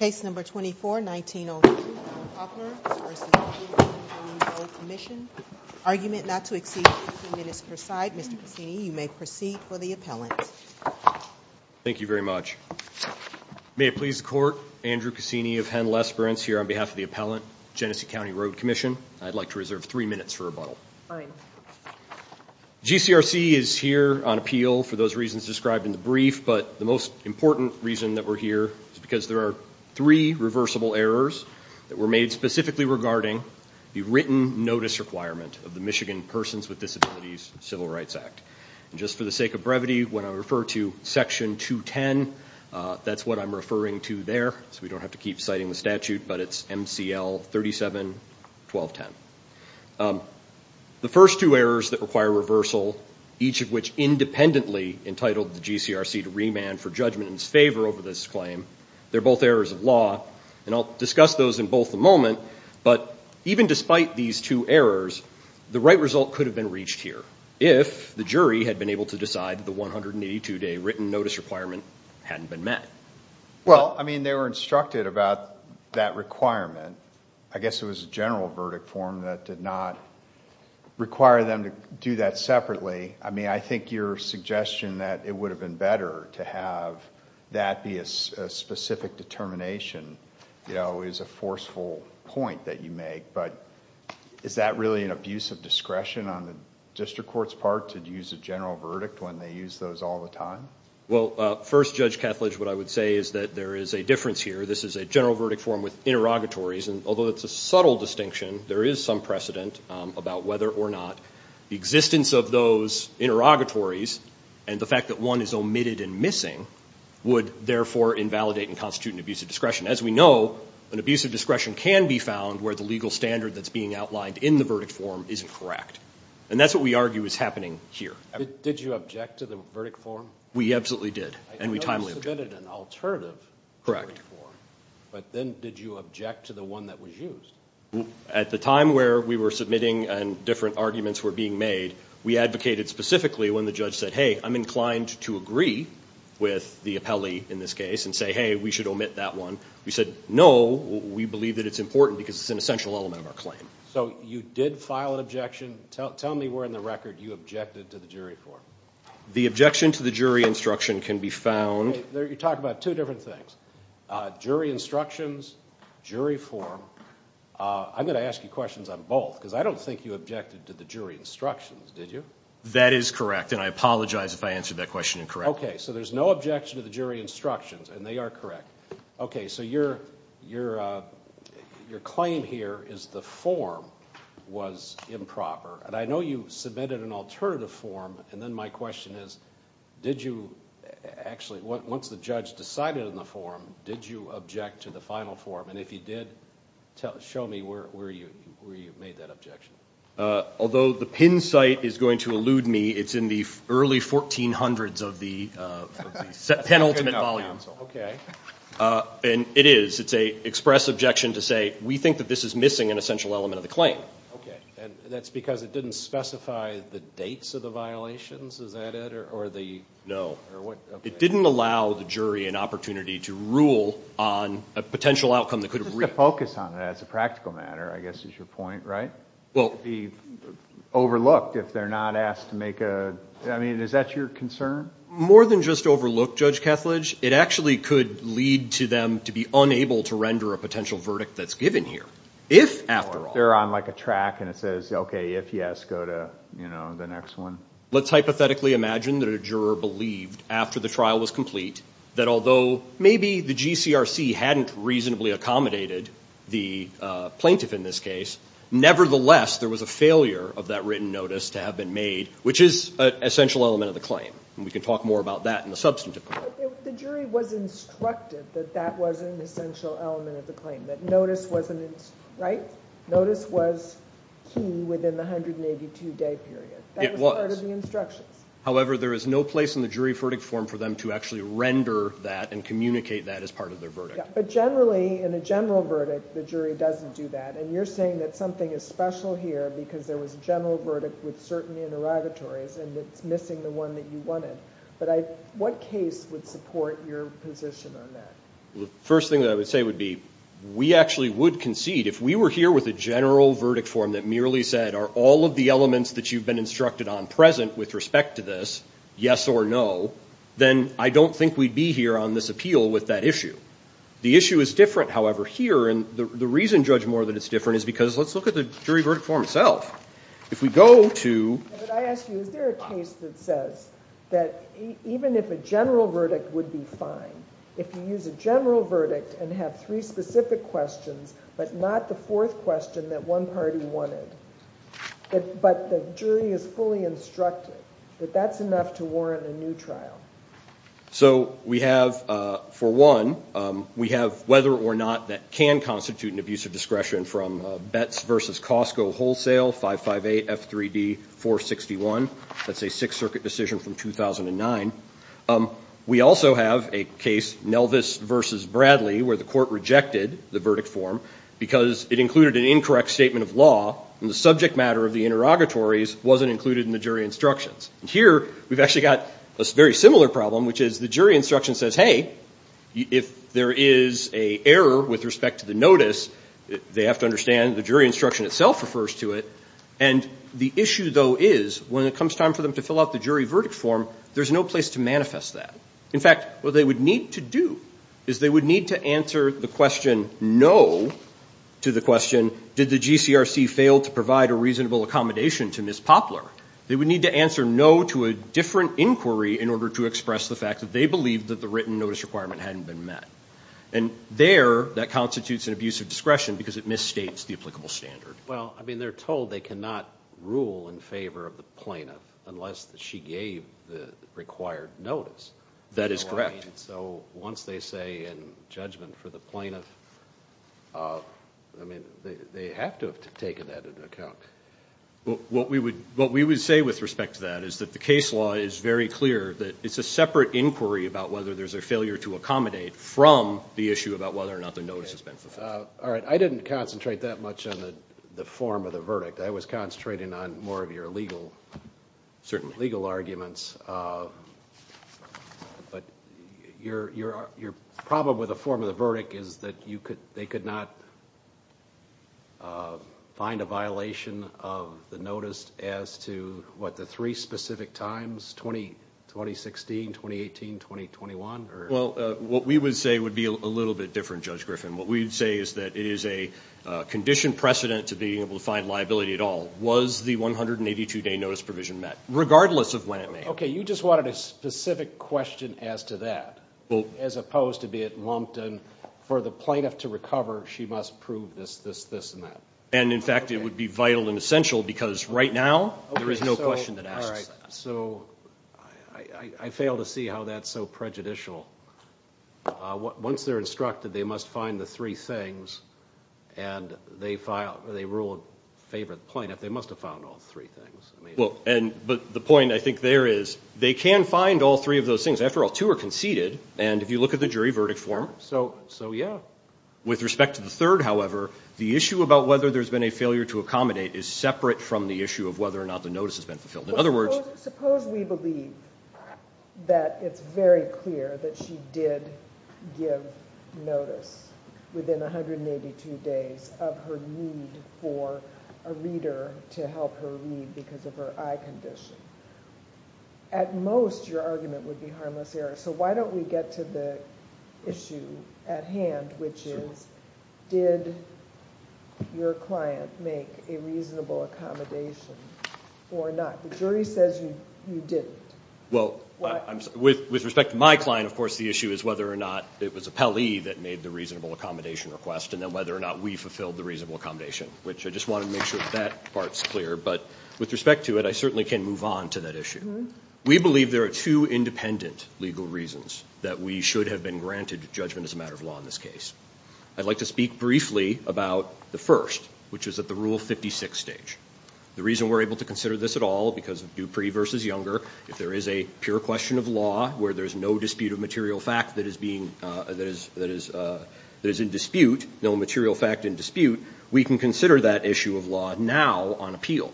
Case number 24, 1902, Poplar v. Genesee County Road Commission. Argument not to exceed 15 minutes per side. Mr. Cassini, you may proceed for the appellant. Thank you very much. May it please the Court, Andrew Cassini of Henl Esperance here on behalf of the appellant, Genesee County Road Commission. I'd like to reserve three minutes for rebuttal. Fine. GCRC is here on appeal for those reasons described in the brief, but the most important reason that we're here is because there are three reversible errors that were made specifically regarding the written notice requirement of the Michigan Persons with Disabilities Civil Rights Act. And just for the sake of brevity, when I refer to Section 210, that's what I'm referring to there, so we don't have to keep citing the statute, but it's MCL 37-1210. The first two errors that require reversal, each of which independently entitled the GCRC to remand for judgment in its favor over this claim, they're both errors of law, and I'll discuss those in both a moment, but even despite these two errors, the right result could have been reached here if the jury had been able to decide the 182-day written notice requirement hadn't been met. Well, I mean, they were instructed about that requirement. I guess it was a general verdict form that did not require them to do that separately. I mean, I think your suggestion that it would have been better to have that be a specific determination, you know, is a forceful point that you make, but is that really an abuse of discretion on the district court's part to use a general verdict when they use those all the time? Well, first, Judge Kethledge, what I would say is that there is a difference here. This is a general verdict form with interrogatories, and although it's a subtle distinction, there is some precedent about whether or not the existence of those interrogatories and the fact that one is omitted and missing would therefore invalidate and constitute an abuse of discretion. As we know, an abuse of discretion can be found where the legal standard that's being outlined in the verdict form isn't correct, and that's what we argue is happening here. Did you object to the verdict form? We absolutely did, and we timely objected. Correct. But then did you object to the one that was used? At the time where we were submitting and different arguments were being made, we advocated specifically when the judge said, hey, I'm inclined to agree with the appellee in this case and say, hey, we should omit that one. We said, no, we believe that it's important because it's an essential element of our claim. So you did file an objection. Tell me where in the record you objected to the jury form. The objection to the jury instruction can be found. You're talking about two different things, jury instructions, jury form. I'm going to ask you questions on both because I don't think you objected to the jury instructions, did you? That is correct, and I apologize if I answered that question incorrectly. Okay, so there's no objection to the jury instructions, and they are correct. Okay, so your claim here is the form was improper, and I know you submitted an alternative form, and then my question is did you actually, once the judge decided on the form, did you object to the final form? And if you did, show me where you made that objection. Although the pin site is going to elude me, it's in the early 1400s of the penultimate volume. Okay. And it is. It's an express objection to say we think that this is missing an essential element of the claim. Okay, and that's because it didn't specify the dates of the violations? Is that it? No. It didn't allow the jury an opportunity to rule on a potential outcome that could have reached. Just to focus on that as a practical matter, I guess is your point, right? Well. It would be overlooked if they're not asked to make a, I mean, is that your concern? More than just overlook, Judge Kethledge. It actually could lead to them to be unable to render a potential verdict that's given here if, after all. They're on, like, a track and it says, okay, if yes, go to, you know, the next one. Let's hypothetically imagine that a juror believed, after the trial was complete, that although maybe the GCRC hadn't reasonably accommodated the plaintiff in this case, nevertheless there was a failure of that written notice to have been made, which is an essential element of the claim. And we can talk more about that in the substantive part. The jury was instructed that that wasn't an essential element of the claim, that notice wasn't, right? Notice was key within the 182-day period. It was. That was part of the instructions. However, there is no place in the jury verdict form for them to actually render that and communicate that as part of their verdict. But generally, in a general verdict, the jury doesn't do that. And you're saying that something is special here because there was a general verdict with certain interrogatories and it's missing the one that you wanted. But what case would support your position on that? The first thing that I would say would be we actually would concede. If we were here with a general verdict form that merely said, are all of the elements that you've been instructed on present with respect to this, yes or no, then I don't think we'd be here on this appeal with that issue. The issue is different, however, here. And the reason, Judge Mohr, that it's different is because let's look at the jury verdict form itself. If we go to... But I ask you, is there a case that says that even if a general verdict would be fine, if you use a general verdict and have three specific questions but not the fourth question that one party wanted, but the jury is fully instructed, that that's enough to warrant a new trial? So we have, for one, we have whether or not that can constitute an abuse of discretion from Betts v. Costco Wholesale 558 F3D 461. That's a Sixth Circuit decision from 2009. We also have a case, Nelvis v. Bradley, where the court rejected the verdict form because it included an incorrect statement of law, and the subject matter of the interrogatories wasn't included in the jury instructions. Here we've actually got a very similar problem, which is the jury instruction says, hey, if there is an error with respect to the notice, they have to understand the jury instruction itself refers to it. And the issue, though, is when it comes time for them to fill out the jury verdict form, there's no place to manifest that. In fact, what they would need to do is they would need to answer the question no to the question, did the GCRC fail to provide a reasonable accommodation to Ms. Poplar? They would need to answer no to a different inquiry in order to express the fact that they believed that the written notice requirement hadn't been met. And there, that constitutes an abuse of discretion because it misstates the applicable standard. Well, I mean, they're told they cannot rule in favor of the plaintiff unless she gave the required notice. That is correct. So once they say in judgment for the plaintiff, I mean, they have to have taken that into account. What we would say with respect to that is that the case law is very clear, that it's a separate inquiry about whether there's a failure to accommodate from the issue about whether or not the notice has been fulfilled. All right. I didn't concentrate that much on the form of the verdict. I was concentrating on more of your legal arguments. But your problem with the form of the verdict is that they could not find a violation of the notice as to, what, the three specific times, 2016, 2018, 2021? Well, what we would say would be a little bit different, Judge Griffin. What we would say is that it is a condition precedent to being able to find liability at all, was the 182-day notice provision met, regardless of when it may have been. Okay. You just wanted a specific question as to that, as opposed to be it lumped in, for the plaintiff to recover, she must prove this, this, this, and that. And, in fact, it would be vital and essential because right now there is no question that asks that. So I fail to see how that's so prejudicial. Once they're instructed, they must find the three things, and they rule in favor of the plaintiff. They must have found all three things. Well, but the point I think there is they can find all three of those things. After all, two are conceded, and if you look at the jury verdict form. So, yeah. With respect to the third, however, the issue about whether there's been a failure to accommodate is separate from the issue of whether or not the notice has been fulfilled. Suppose we believe that it's very clear that she did give notice within 182 days of her need for a reader to help her read because of her eye condition. At most, your argument would be harmless error. So why don't we get to the issue at hand, which is did your client make a reasonable accommodation or not? The jury says you didn't. Well, with respect to my client, of course, the issue is whether or not it was Appellee that made the reasonable accommodation request and then whether or not we fulfilled the reasonable accommodation, which I just wanted to make sure that that part's clear. But with respect to it, I certainly can move on to that issue. We believe there are two independent legal reasons that we should have been granted judgment as a matter of law in this case. I'd like to speak briefly about the first, which is at the Rule 56 stage. The reason we're able to consider this at all because of Dupree v. Younger, if there is a pure question of law where there's no dispute of material fact that is in dispute, no material fact in dispute, we can consider that issue of law now on appeal.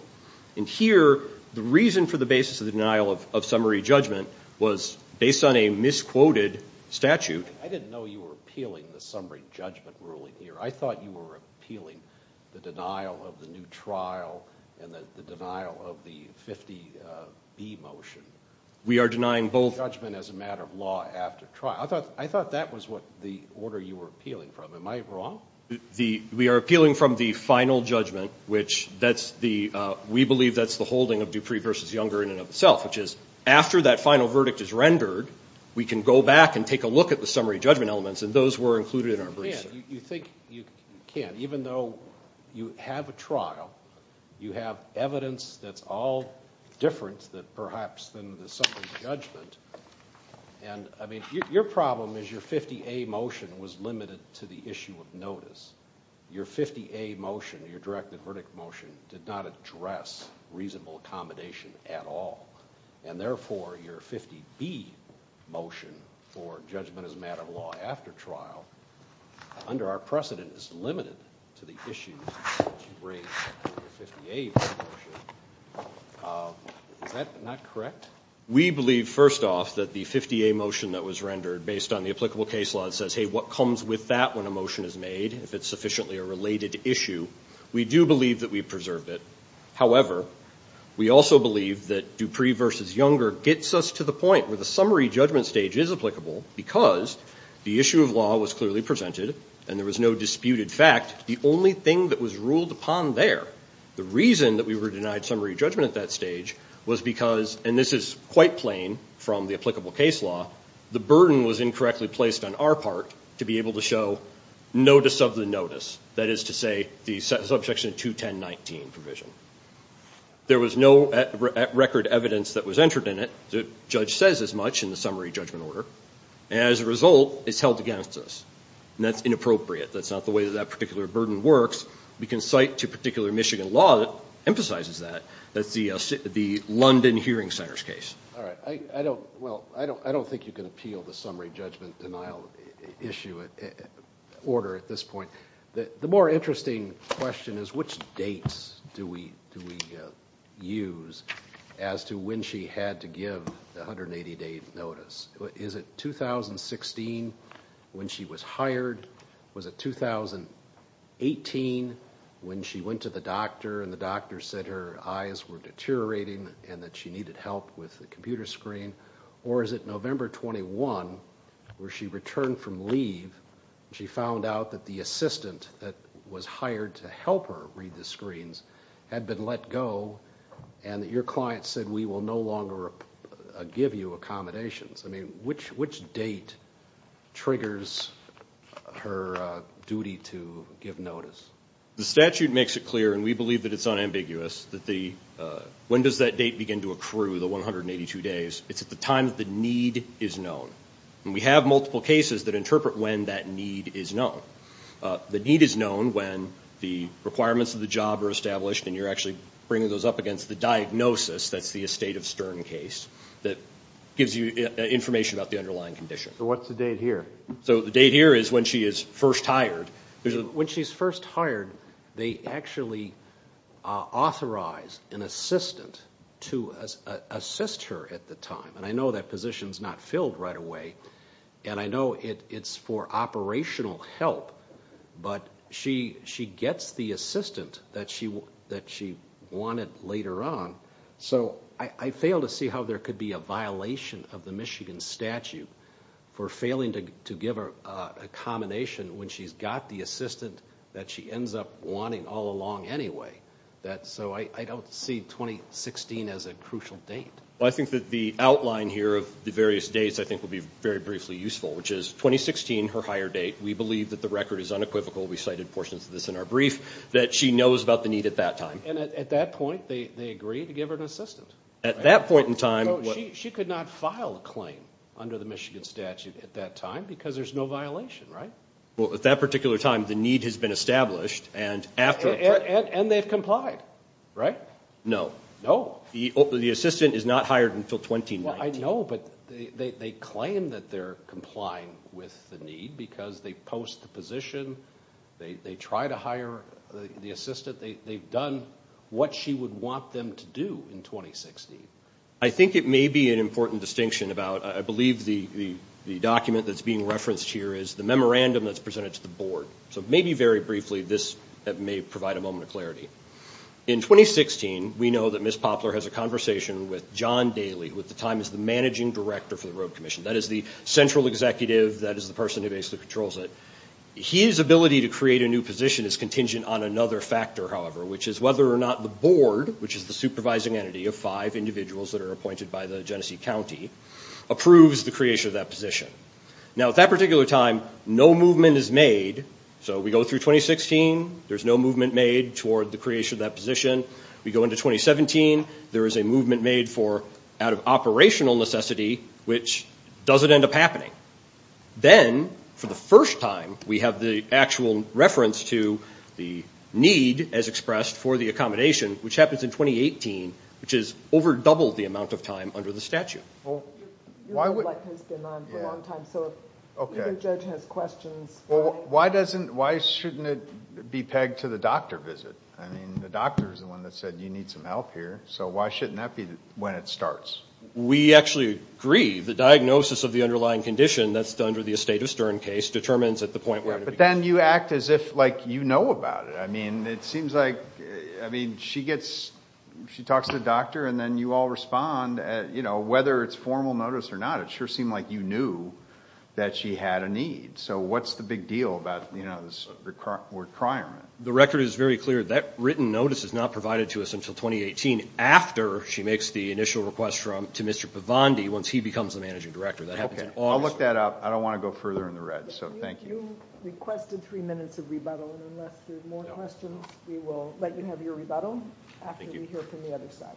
And here, the reason for the basis of the denial of summary judgment was based on a misquoted statute. I didn't know you were appealing the summary judgment ruling here. I thought you were appealing the denial of the new trial and the denial of the 50B motion. We are denying both. Judgment as a matter of law after trial. I thought that was what the order you were appealing from. Am I wrong? We are appealing from the final judgment, which we believe that's the holding of Dupree v. Younger in and of itself, which is after that final verdict is rendered, we can go back and take a look at the summary judgment elements, and those were included in our briefs. You can. You think you can. Even though you have a trial, you have evidence that's all different perhaps than the summary judgment, and your problem is your 50A motion was limited to the issue of notice. Your 50A motion, your directed verdict motion, did not address reasonable accommodation at all, and therefore your 50B motion for judgment as a matter of law after trial, under our precedent, is limited to the issue that you raised with your 50A motion. Is that not correct? We believe, first off, that the 50A motion that was rendered based on the applicable case law that says, hey, what comes with that when a motion is made, if it's sufficiently a related issue, we do believe that we preserved it. However, we also believe that Dupree v. Younger gets us to the point where the summary judgment stage is applicable because the issue of law was clearly presented and there was no disputed fact. The only thing that was ruled upon there, the reason that we were denied summary judgment at that stage, was because, and this is quite plain from the applicable case law, the burden was incorrectly placed on our part to be able to show notice of the notice, that is to say, the subsection 210.19 provision. There was no record evidence that was entered in it. The judge says as much in the summary judgment order. As a result, it's held against us, and that's inappropriate. That's not the way that that particular burden works. We can cite to particular Michigan law that emphasizes that. That's the London Hearing Centers case. All right. Well, I don't think you can appeal the summary judgment denial issue order at this point. The more interesting question is which dates do we use as to when she had to give the 180-day notice. Is it 2016 when she was hired? Was it 2018 when she went to the doctor and the doctor said her eyes were deteriorating and that she needed help with the computer screen, or is it November 21 where she returned from leave and she found out that the assistant that was hired to help her read the screens had been let go and that your client said we will no longer give you accommodations? I mean, which date triggers her duty to give notice? The statute makes it clear, and we believe that it's unambiguous, that when does that date begin to accrue, the 182 days? It's at the time that the need is known. And we have multiple cases that interpret when that need is known. The need is known when the requirements of the job are established and you're actually bringing those up against the diagnosis, that's the estate of Stern case, that gives you information about the underlying condition. So what's the date here? So the date here is when she is first hired. When she's first hired, they actually authorize an assistant to assist her at the time, and I know that position is not filled right away, and I know it's for operational help, but she gets the assistant that she wanted later on. So I fail to see how there could be a violation of the Michigan statute for failing to give her a combination when she's got the assistant that she ends up wanting all along anyway. So I don't see 2016 as a crucial date. Well, I think that the outline here of the various dates I think will be very briefly useful, which is 2016, her hire date. We believe that the record is unequivocal. We cited portions of this in our brief that she knows about the need at that time. And at that point, they agree to give her an assistant? At that point in time. She could not file a claim under the Michigan statute at that time because there's no violation, right? Well, at that particular time, the need has been established. And they've complied, right? No. No? The assistant is not hired until 2019. Well, I know, but they claim that they're complying with the need because they post the position, they try to hire the assistant, they've done what she would want them to do in 2016. I think it may be an important distinction about, I believe the document that's being referenced here is the memorandum that's presented to the board. So maybe very briefly, this may provide a moment of clarity. In 2016, we know that Ms. Poplar has a conversation with John Daly, who at the time is the managing director for the road commission. That is the central executive. That is the person who basically controls it. His ability to create a new position is contingent on another factor, however, which is whether or not the board, which is the supervising entity of five individuals that are appointed by the Genesee County, approves the creation of that position. Now, at that particular time, no movement is made. So we go through 2016, there's no movement made toward the creation of that position. We go into 2017, there is a movement made out of operational necessity, which doesn't end up happening. Then, for the first time, we have the actual reference to the need, as expressed, for the accommodation, which happens in 2018, which has over doubled the amount of time under the statute. Why shouldn't it be pegged to the doctor visit? I mean, the doctor is the one that said you need some help here. So why shouldn't that be when it starts? We actually agree. The diagnosis of the underlying condition that's under the estate of Stern case determines at the point where it begins. But then you act as if, like, you know about it. I mean, it seems like, I mean, she gets, she talks to the doctor, and then you all respond, you know, whether it's formal notice or not. It sure seemed like you knew that she had a need. So what's the big deal about, you know, this requirement? The record is very clear. That written notice is not provided to us until 2018, after she makes the initial request to Mr. Pavandi, once he becomes the managing director. I'll look that up. I don't want to go further in the red. So thank you. You requested three minutes of rebuttal. Unless there's more questions, we will let you have your rebuttal. Thank you. After we hear from the other side.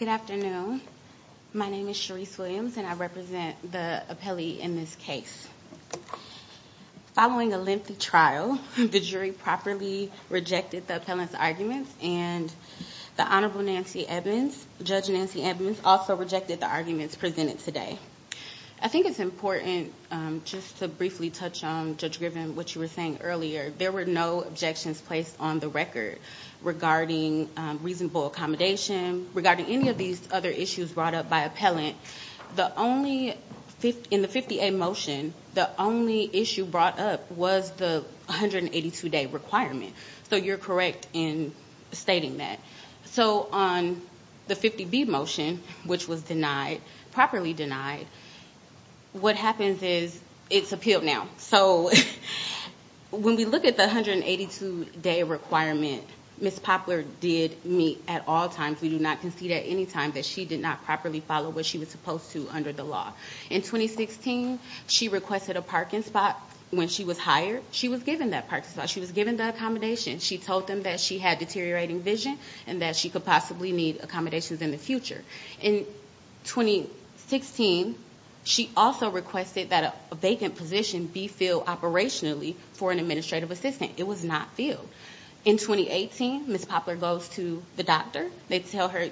Good afternoon. My name is Cherise Williams, and I represent the appellee in this case. Following a lengthy trial, the jury properly rejected the appellant's arguments, and the Honorable Nancy Evans, Judge Nancy Evans, also rejected the arguments presented today. I think it's important just to briefly touch on, Judge Griffin, what you were saying earlier. There were no objections placed on the record regarding reasonable accommodation, regarding any of these other issues brought up by appellant. In the 50A motion, the only issue brought up was the 182-day requirement. So you're correct in stating that. So on the 50B motion, which was properly denied, what happens is it's appealed now. So when we look at the 182-day requirement, Ms. Poplar did meet at all times. We do not concede at any time that she did not properly follow what she was supposed to under the law. In 2016, she requested a parking spot. When she was hired, she was given that parking spot. She was given the accommodation. She told them that she had deteriorating vision and that she could possibly need accommodations in the future. In 2016, she also requested that a vacant position be filled operationally for an administrative assistant. It was not filled. In 2018, Ms. Poplar goes to the doctor. They tell her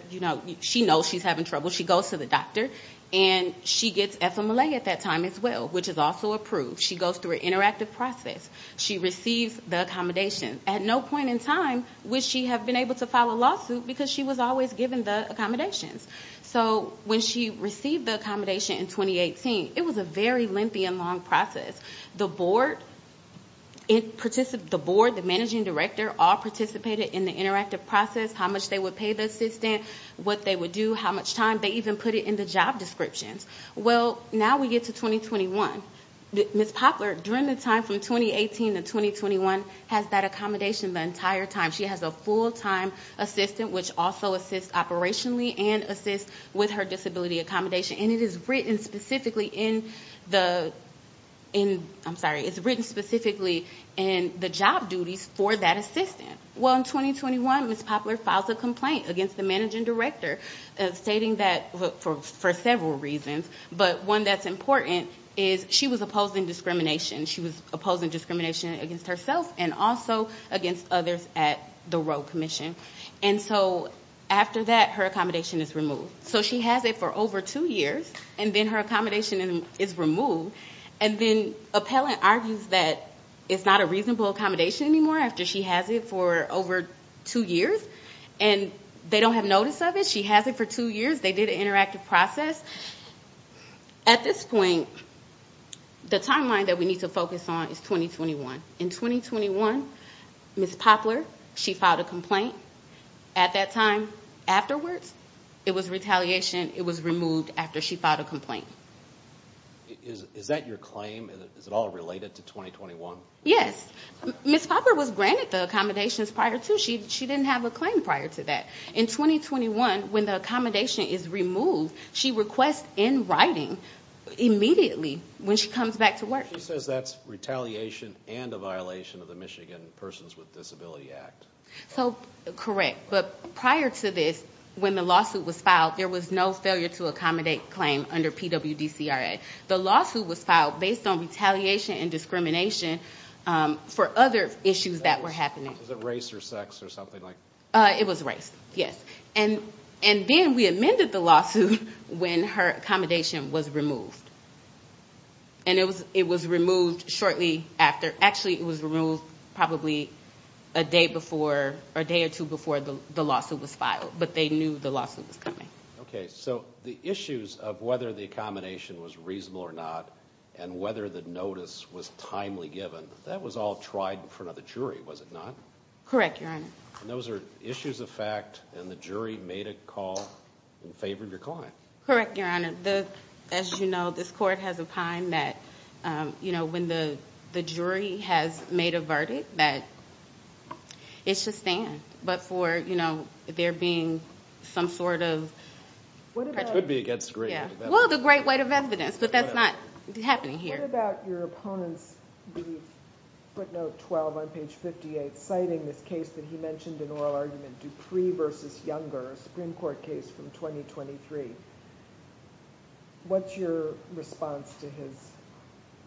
she knows she's having trouble. She goes to the doctor, and she gets FMLA at that time as well, which is also approved. She goes through an interactive process. She receives the accommodation. At no point in time would she have been able to file a lawsuit because she was always given the accommodations. So when she received the accommodation in 2018, it was a very lengthy and long process. The board, the managing director all participated in the interactive process, how much they would pay the assistant, what they would do, how much time. They even put it in the job descriptions. Well, now we get to 2021. Ms. Poplar, during the time from 2018 to 2021, has that accommodation the entire time. She has a full-time assistant, which also assists operationally and assists with her disability accommodation. And it is written specifically in the job duties for that assistant. Well, in 2021, Ms. Poplar files a complaint against the managing director, stating that for several reasons. But one that's important is she was opposing discrimination. She was opposing discrimination against herself and also against others at the Roe Commission. And so after that, her accommodation is removed. So she has it for over two years, and then her accommodation is removed. And then appellant argues that it's not a reasonable accommodation anymore after she has it for over two years. And they don't have notice of it. She has it for two years. They did an interactive process. At this point, the timeline that we need to focus on is 2021. In 2021, Ms. Poplar, she filed a complaint. At that time, afterwards, it was retaliation. It was removed after she filed a complaint. Is that your claim? Is it all related to 2021? Yes. Ms. Poplar was granted the accommodations prior to. She didn't have a claim prior to that. In 2021, when the accommodation is removed, she requests in writing immediately when she comes back to work. She says that's retaliation and a violation of the Michigan Persons with Disability Act. So, correct. But prior to this, when the lawsuit was filed, there was no failure to accommodate claim under PWDCRA. The lawsuit was filed based on retaliation and discrimination for other issues that were happening. Was it race or sex or something like that? It was race, yes. And then we amended the lawsuit when her accommodation was removed. And it was removed shortly after. Actually, it was removed probably a day or two before the lawsuit was filed, but they knew the lawsuit was coming. Okay. So, the issues of whether the accommodation was reasonable or not and whether the notice was timely given, that was all tried in front of the jury, was it not? Correct, Your Honor. And those are issues of fact, and the jury made a call and favored your claim? Correct, Your Honor. As you know, this court has opined that when the jury has made a verdict, that it should stand. But for there being some sort of… Which would be against great weight of evidence. Well, the great weight of evidence, but that's not happening here. What about your opponent's brief footnote 12 on page 58 citing this case that he mentioned in oral argument, Dupree v. Younger, Supreme Court case from 2023? What's your response to his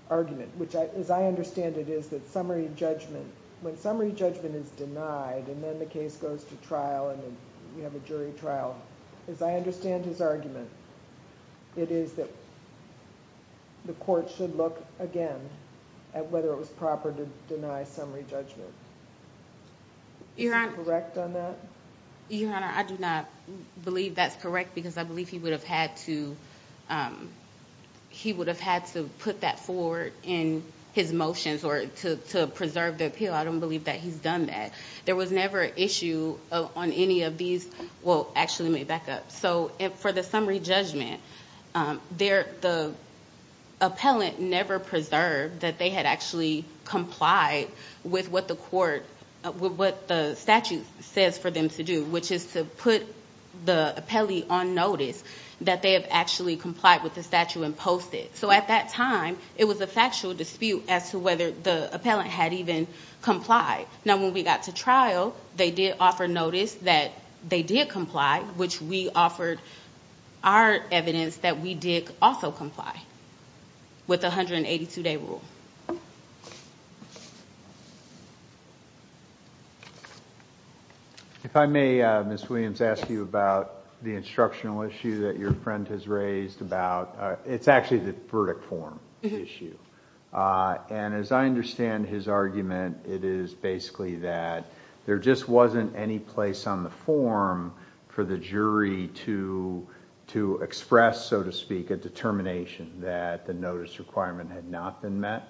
argument? Which, as I understand it, is that summary judgment… When summary judgment is denied and then the case goes to trial and we have a jury trial, as I understand his argument, it is that the court should look again at whether it was proper to deny summary judgment. Is he correct on that? Your Honor, I do not believe that's correct because I believe he would have had to put that forward in his motions or to preserve the appeal. I don't believe that he's done that. There was never an issue on any of these, well, actually may back up. So for the summary judgment, the appellant never preserved that they had actually complied with what the statute says for them to do, which is to put the appellee on notice that they have actually complied with the statute and post it. So at that time, it was a factual dispute as to whether the appellant had even complied. Now, when we got to trial, they did offer notice that they did comply, which we offered our evidence that we did also comply with the 182-day rule. If I may, Ms. Williams, ask you about the instructional issue that your friend has raised about… It's actually the verdict form issue. And as I understand his argument, it is basically that there just wasn't any place on the form for the jury to express, so to speak, a determination that the notice requirement had not been met.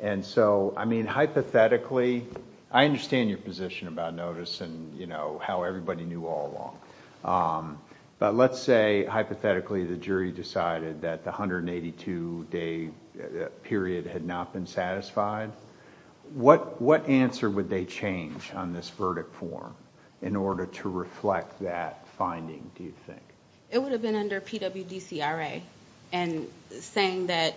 And so, I mean, hypothetically, I understand your position about notice and how everybody knew all along. But let's say, hypothetically, the jury decided that the 182-day period had not been satisfied. What answer would they change on this verdict form in order to reflect that finding, do you think? It would have been under PWDCRA and saying that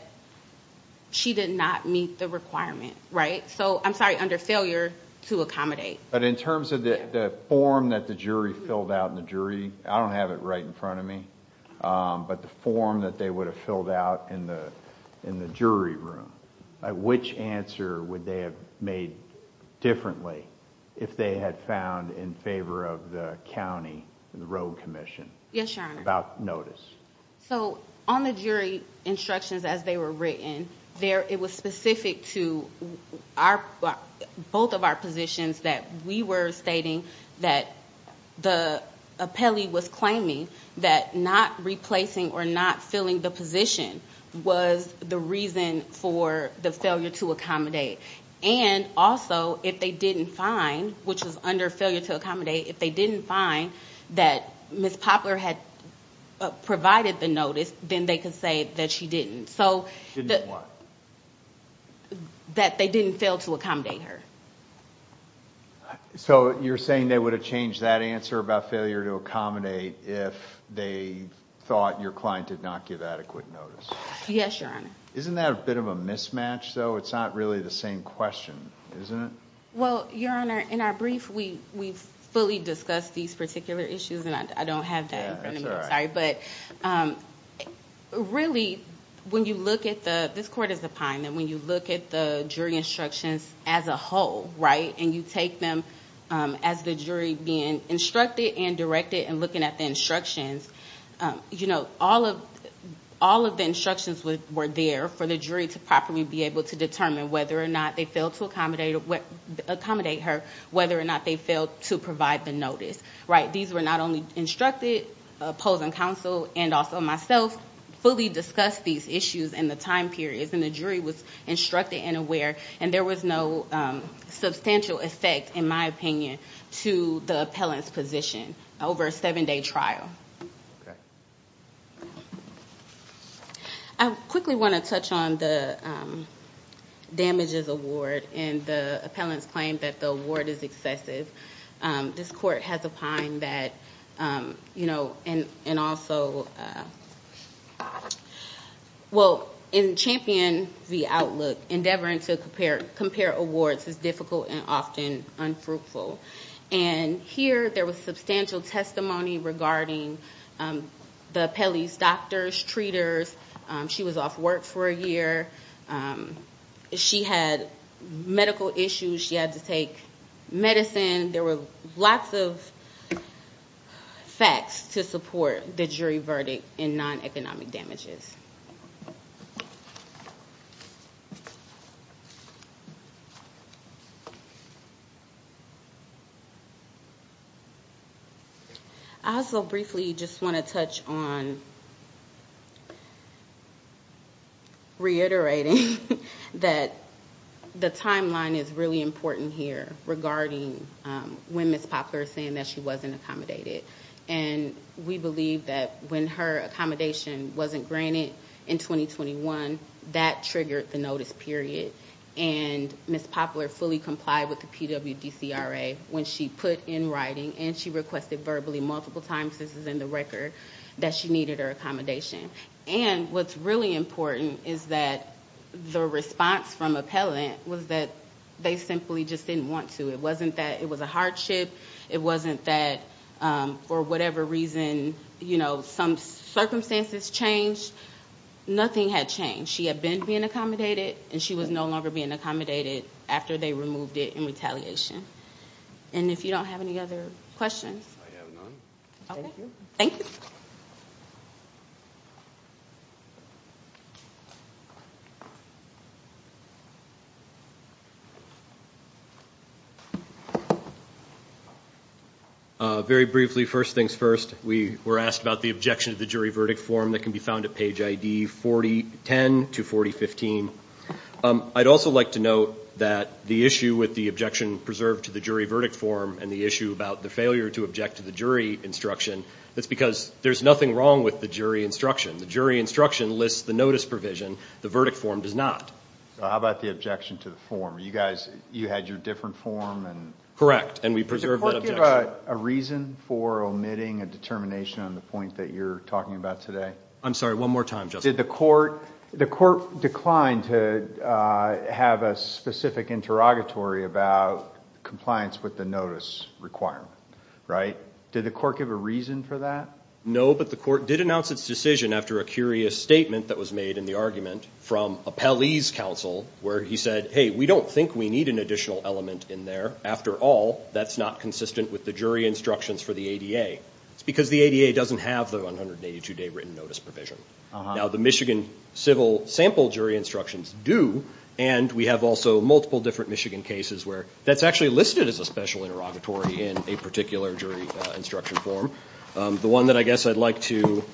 she did not meet the requirement, right? So, I'm sorry, under failure to accommodate. But in terms of the form that the jury filled out in the jury, I don't have it right in front of me, but the form that they would have filled out in the jury room, which answer would they have made differently if they had found in favor of the county road commission about notice? So, on the jury instructions as they were written, it was specific to both of our positions that we were stating that the appellee was claiming that not replacing or not filling the position was the reason for the failure to accommodate. And also, if they didn't find, which was under failure to accommodate, if they didn't find that Ms. Poplar had provided the notice, then they could say that she didn't. Didn't what? That they didn't fail to accommodate her. So, you're saying they would have changed that answer about failure to accommodate if they thought your client did not give adequate notice? Yes, Your Honor. Isn't that a bit of a mismatch, though? It's not really the same question, isn't it? Well, Your Honor, in our brief, we fully discussed these particular issues, and I don't have that in front of me. I'm sorry, but really, when you look at the, this court is a pine, and when you look at the jury instructions as a whole, right, and you take them as the jury being instructed and directed and looking at the instructions, you know, all of the instructions were there for the jury to properly be able to determine whether or not they failed to accommodate her, whether or not they failed to provide the notice, right? These were not only instructed, opposing counsel and also myself fully discussed these issues in the time periods, and the jury was instructed and aware, and there was no substantial effect, in my opinion, to the appellant's position over a seven-day trial. I quickly want to touch on the damages award, and the appellant's claim that the award is excessive. This court has opined that, you know, and also, well, in Champion v. Outlook, endeavoring to compare awards is difficult and often unfruitful, and here there was substantial testimony regarding the appellee's doctors, treaters. She was off work for a year. She had medical issues. She had to take medicine. There were lots of facts to support the jury verdict in non-economic damages. I also briefly just want to touch on reiterating that the timeline is really important here regarding when Ms. Poplar is saying that she wasn't accommodated, and we believe that when her accommodation wasn't granted in 2021, that triggered the notice period, and Ms. Poplar fully complied with the PWDCRA when she put in writing, and she requested verbally multiple times, this is in the record, that she needed her accommodation. And what's really important is that the response from appellant was that they simply just didn't want to. It wasn't that it was a hardship. It wasn't that for whatever reason, you know, some circumstances changed. Nothing had changed. She had been being accommodated, and she was no longer being accommodated after they removed it in retaliation. And if you don't have any other questions. I have none. Okay. Thank you. Very briefly, first things first, we were asked about the objection to the jury verdict form that can be found at page ID 4010 to 4015. I'd also like to note that the issue with the objection preserved to the jury verdict form and the issue about the failure to object to the jury instruction, that's because there's nothing wrong with the jury instruction. The jury instruction lists the notice provision. The verdict form does not. So how about the objection to the form? You guys, you had your different form? Correct, and we preserved that objection. Did the court give a reason for omitting a determination on the point that you're talking about today? I'm sorry, one more time, Justice. Did the court decline to have a specific interrogatory about compliance with the notice requirement, right? Did the court give a reason for that? No, but the court did announce its decision after a curious statement that was made in the argument from a Pelley's counsel where he said, hey, we don't think we need an additional element in there. After all, that's not consistent with the jury instructions for the ADA. It's because the ADA doesn't have the 182-day written notice provision. Now, the Michigan civil sample jury instructions do, and we have also multiple different Michigan cases where that's actually listed as a special interrogatory in a particular jury instruction form. The one that I guess I'd like to ‑‑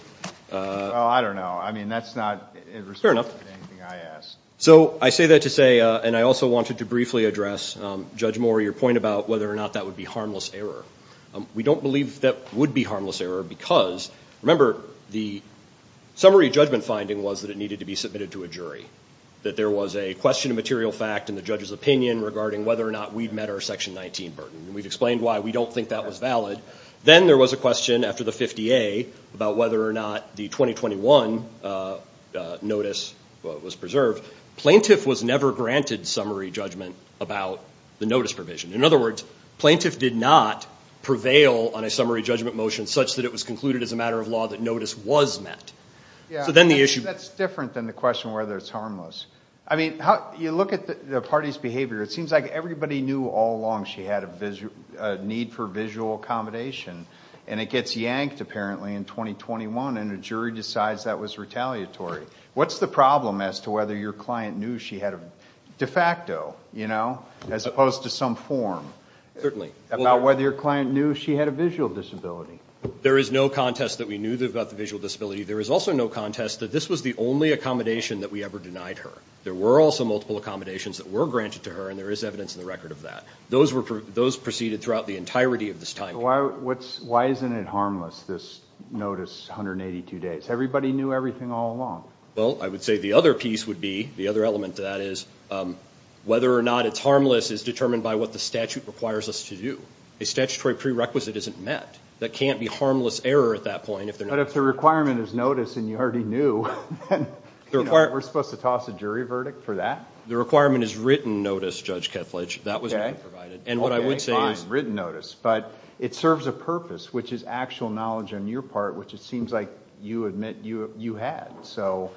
Well, I don't know. I mean, that's not in response to anything I asked. So I say that to say, and I also wanted to briefly address, Judge Moore, your point about whether or not that would be harmless error. We don't believe that would be harmless error because, remember, the summary judgment finding was that it needed to be submitted to a jury, that there was a question of material fact in the judge's opinion regarding whether or not we'd met our Section 19 burden, and we've explained why we don't think that was valid. Then there was a question after the 50A about whether or not the 2021 notice was preserved. Plaintiff was never granted summary judgment about the notice provision. In other words, plaintiff did not prevail on a summary judgment motion such that it was concluded as a matter of law that notice was met. So then the issue ‑‑ Yeah, that's different than the question whether it's harmless. I mean, you look at the party's behavior. It seems like everybody knew all along she had a need for visual accommodation, and it gets yanked, apparently, in 2021, and a jury decides that was retaliatory. What's the problem as to whether your client knew she had a ‑‑ de facto, you know, as opposed to some form. Certainly. About whether your client knew she had a visual disability. There is no contest that we knew about the visual disability. There is also no contest that this was the only accommodation that we ever denied her. There were also multiple accommodations that were granted to her, and there is evidence in the record of that. Those proceeded throughout the entirety of this time. Why isn't it harmless, this notice, 182 days? Everybody knew everything all along. Well, I would say the other piece would be, the other element to that is, whether or not it's harmless is determined by what the statute requires us to do. A statutory prerequisite isn't met. That can't be harmless error at that point. But if the requirement is notice and you already knew, then we're supposed to toss a jury verdict for that? The requirement is written notice, Judge Kethledge. That was provided. Okay, fine, written notice. But it serves a purpose, which is actual knowledge on your part, which it seems like you admit you had. So,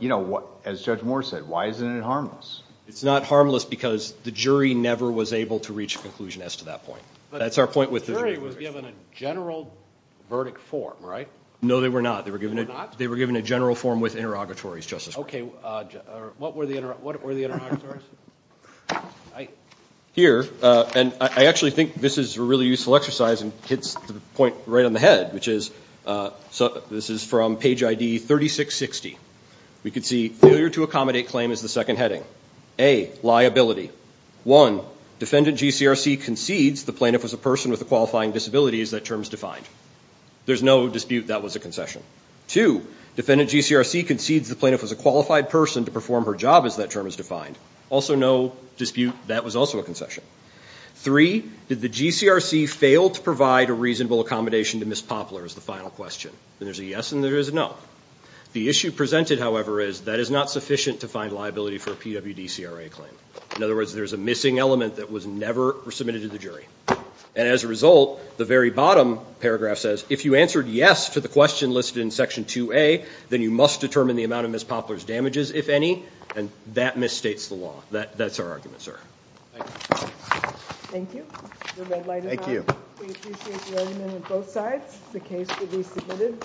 you know, as Judge Moore said, why isn't it harmless? It's not harmless because the jury never was able to reach a conclusion as to that point. But the jury was given a general verdict form, right? No, they were not. They were not? They were a general form with interrogatories, Justice Breyer. Okay. What were the interrogatories? Here, and I actually think this is a really useful exercise and hits the point right on the head, which is, this is from page ID 3660. We can see, failure to accommodate claim is the second heading. A, liability. One, defendant GCRC concedes the plaintiff was a person with a qualifying disability, as that term is defined. There's no dispute that was a concession. Two, defendant GCRC concedes the plaintiff was a qualified person to perform her job, as that term is defined. Also no dispute that was also a concession. Three, did the GCRC fail to provide a reasonable accommodation to Ms. Poplar is the final question. And there's a yes and there is a no. The issue presented, however, is that is not sufficient to find liability for a PWD CRA claim. In other words, there's a missing element that was never submitted to the jury. And as a result, the very bottom paragraph says, if you answered yes to the question listed in section 2A, then you must determine the amount of Ms. Poplar's damages, if any. And that misstates the law. That's our argument, sir. Thank you. Thank you. The red light is on. Thank you. We appreciate the argument on both sides. The case will be submitted.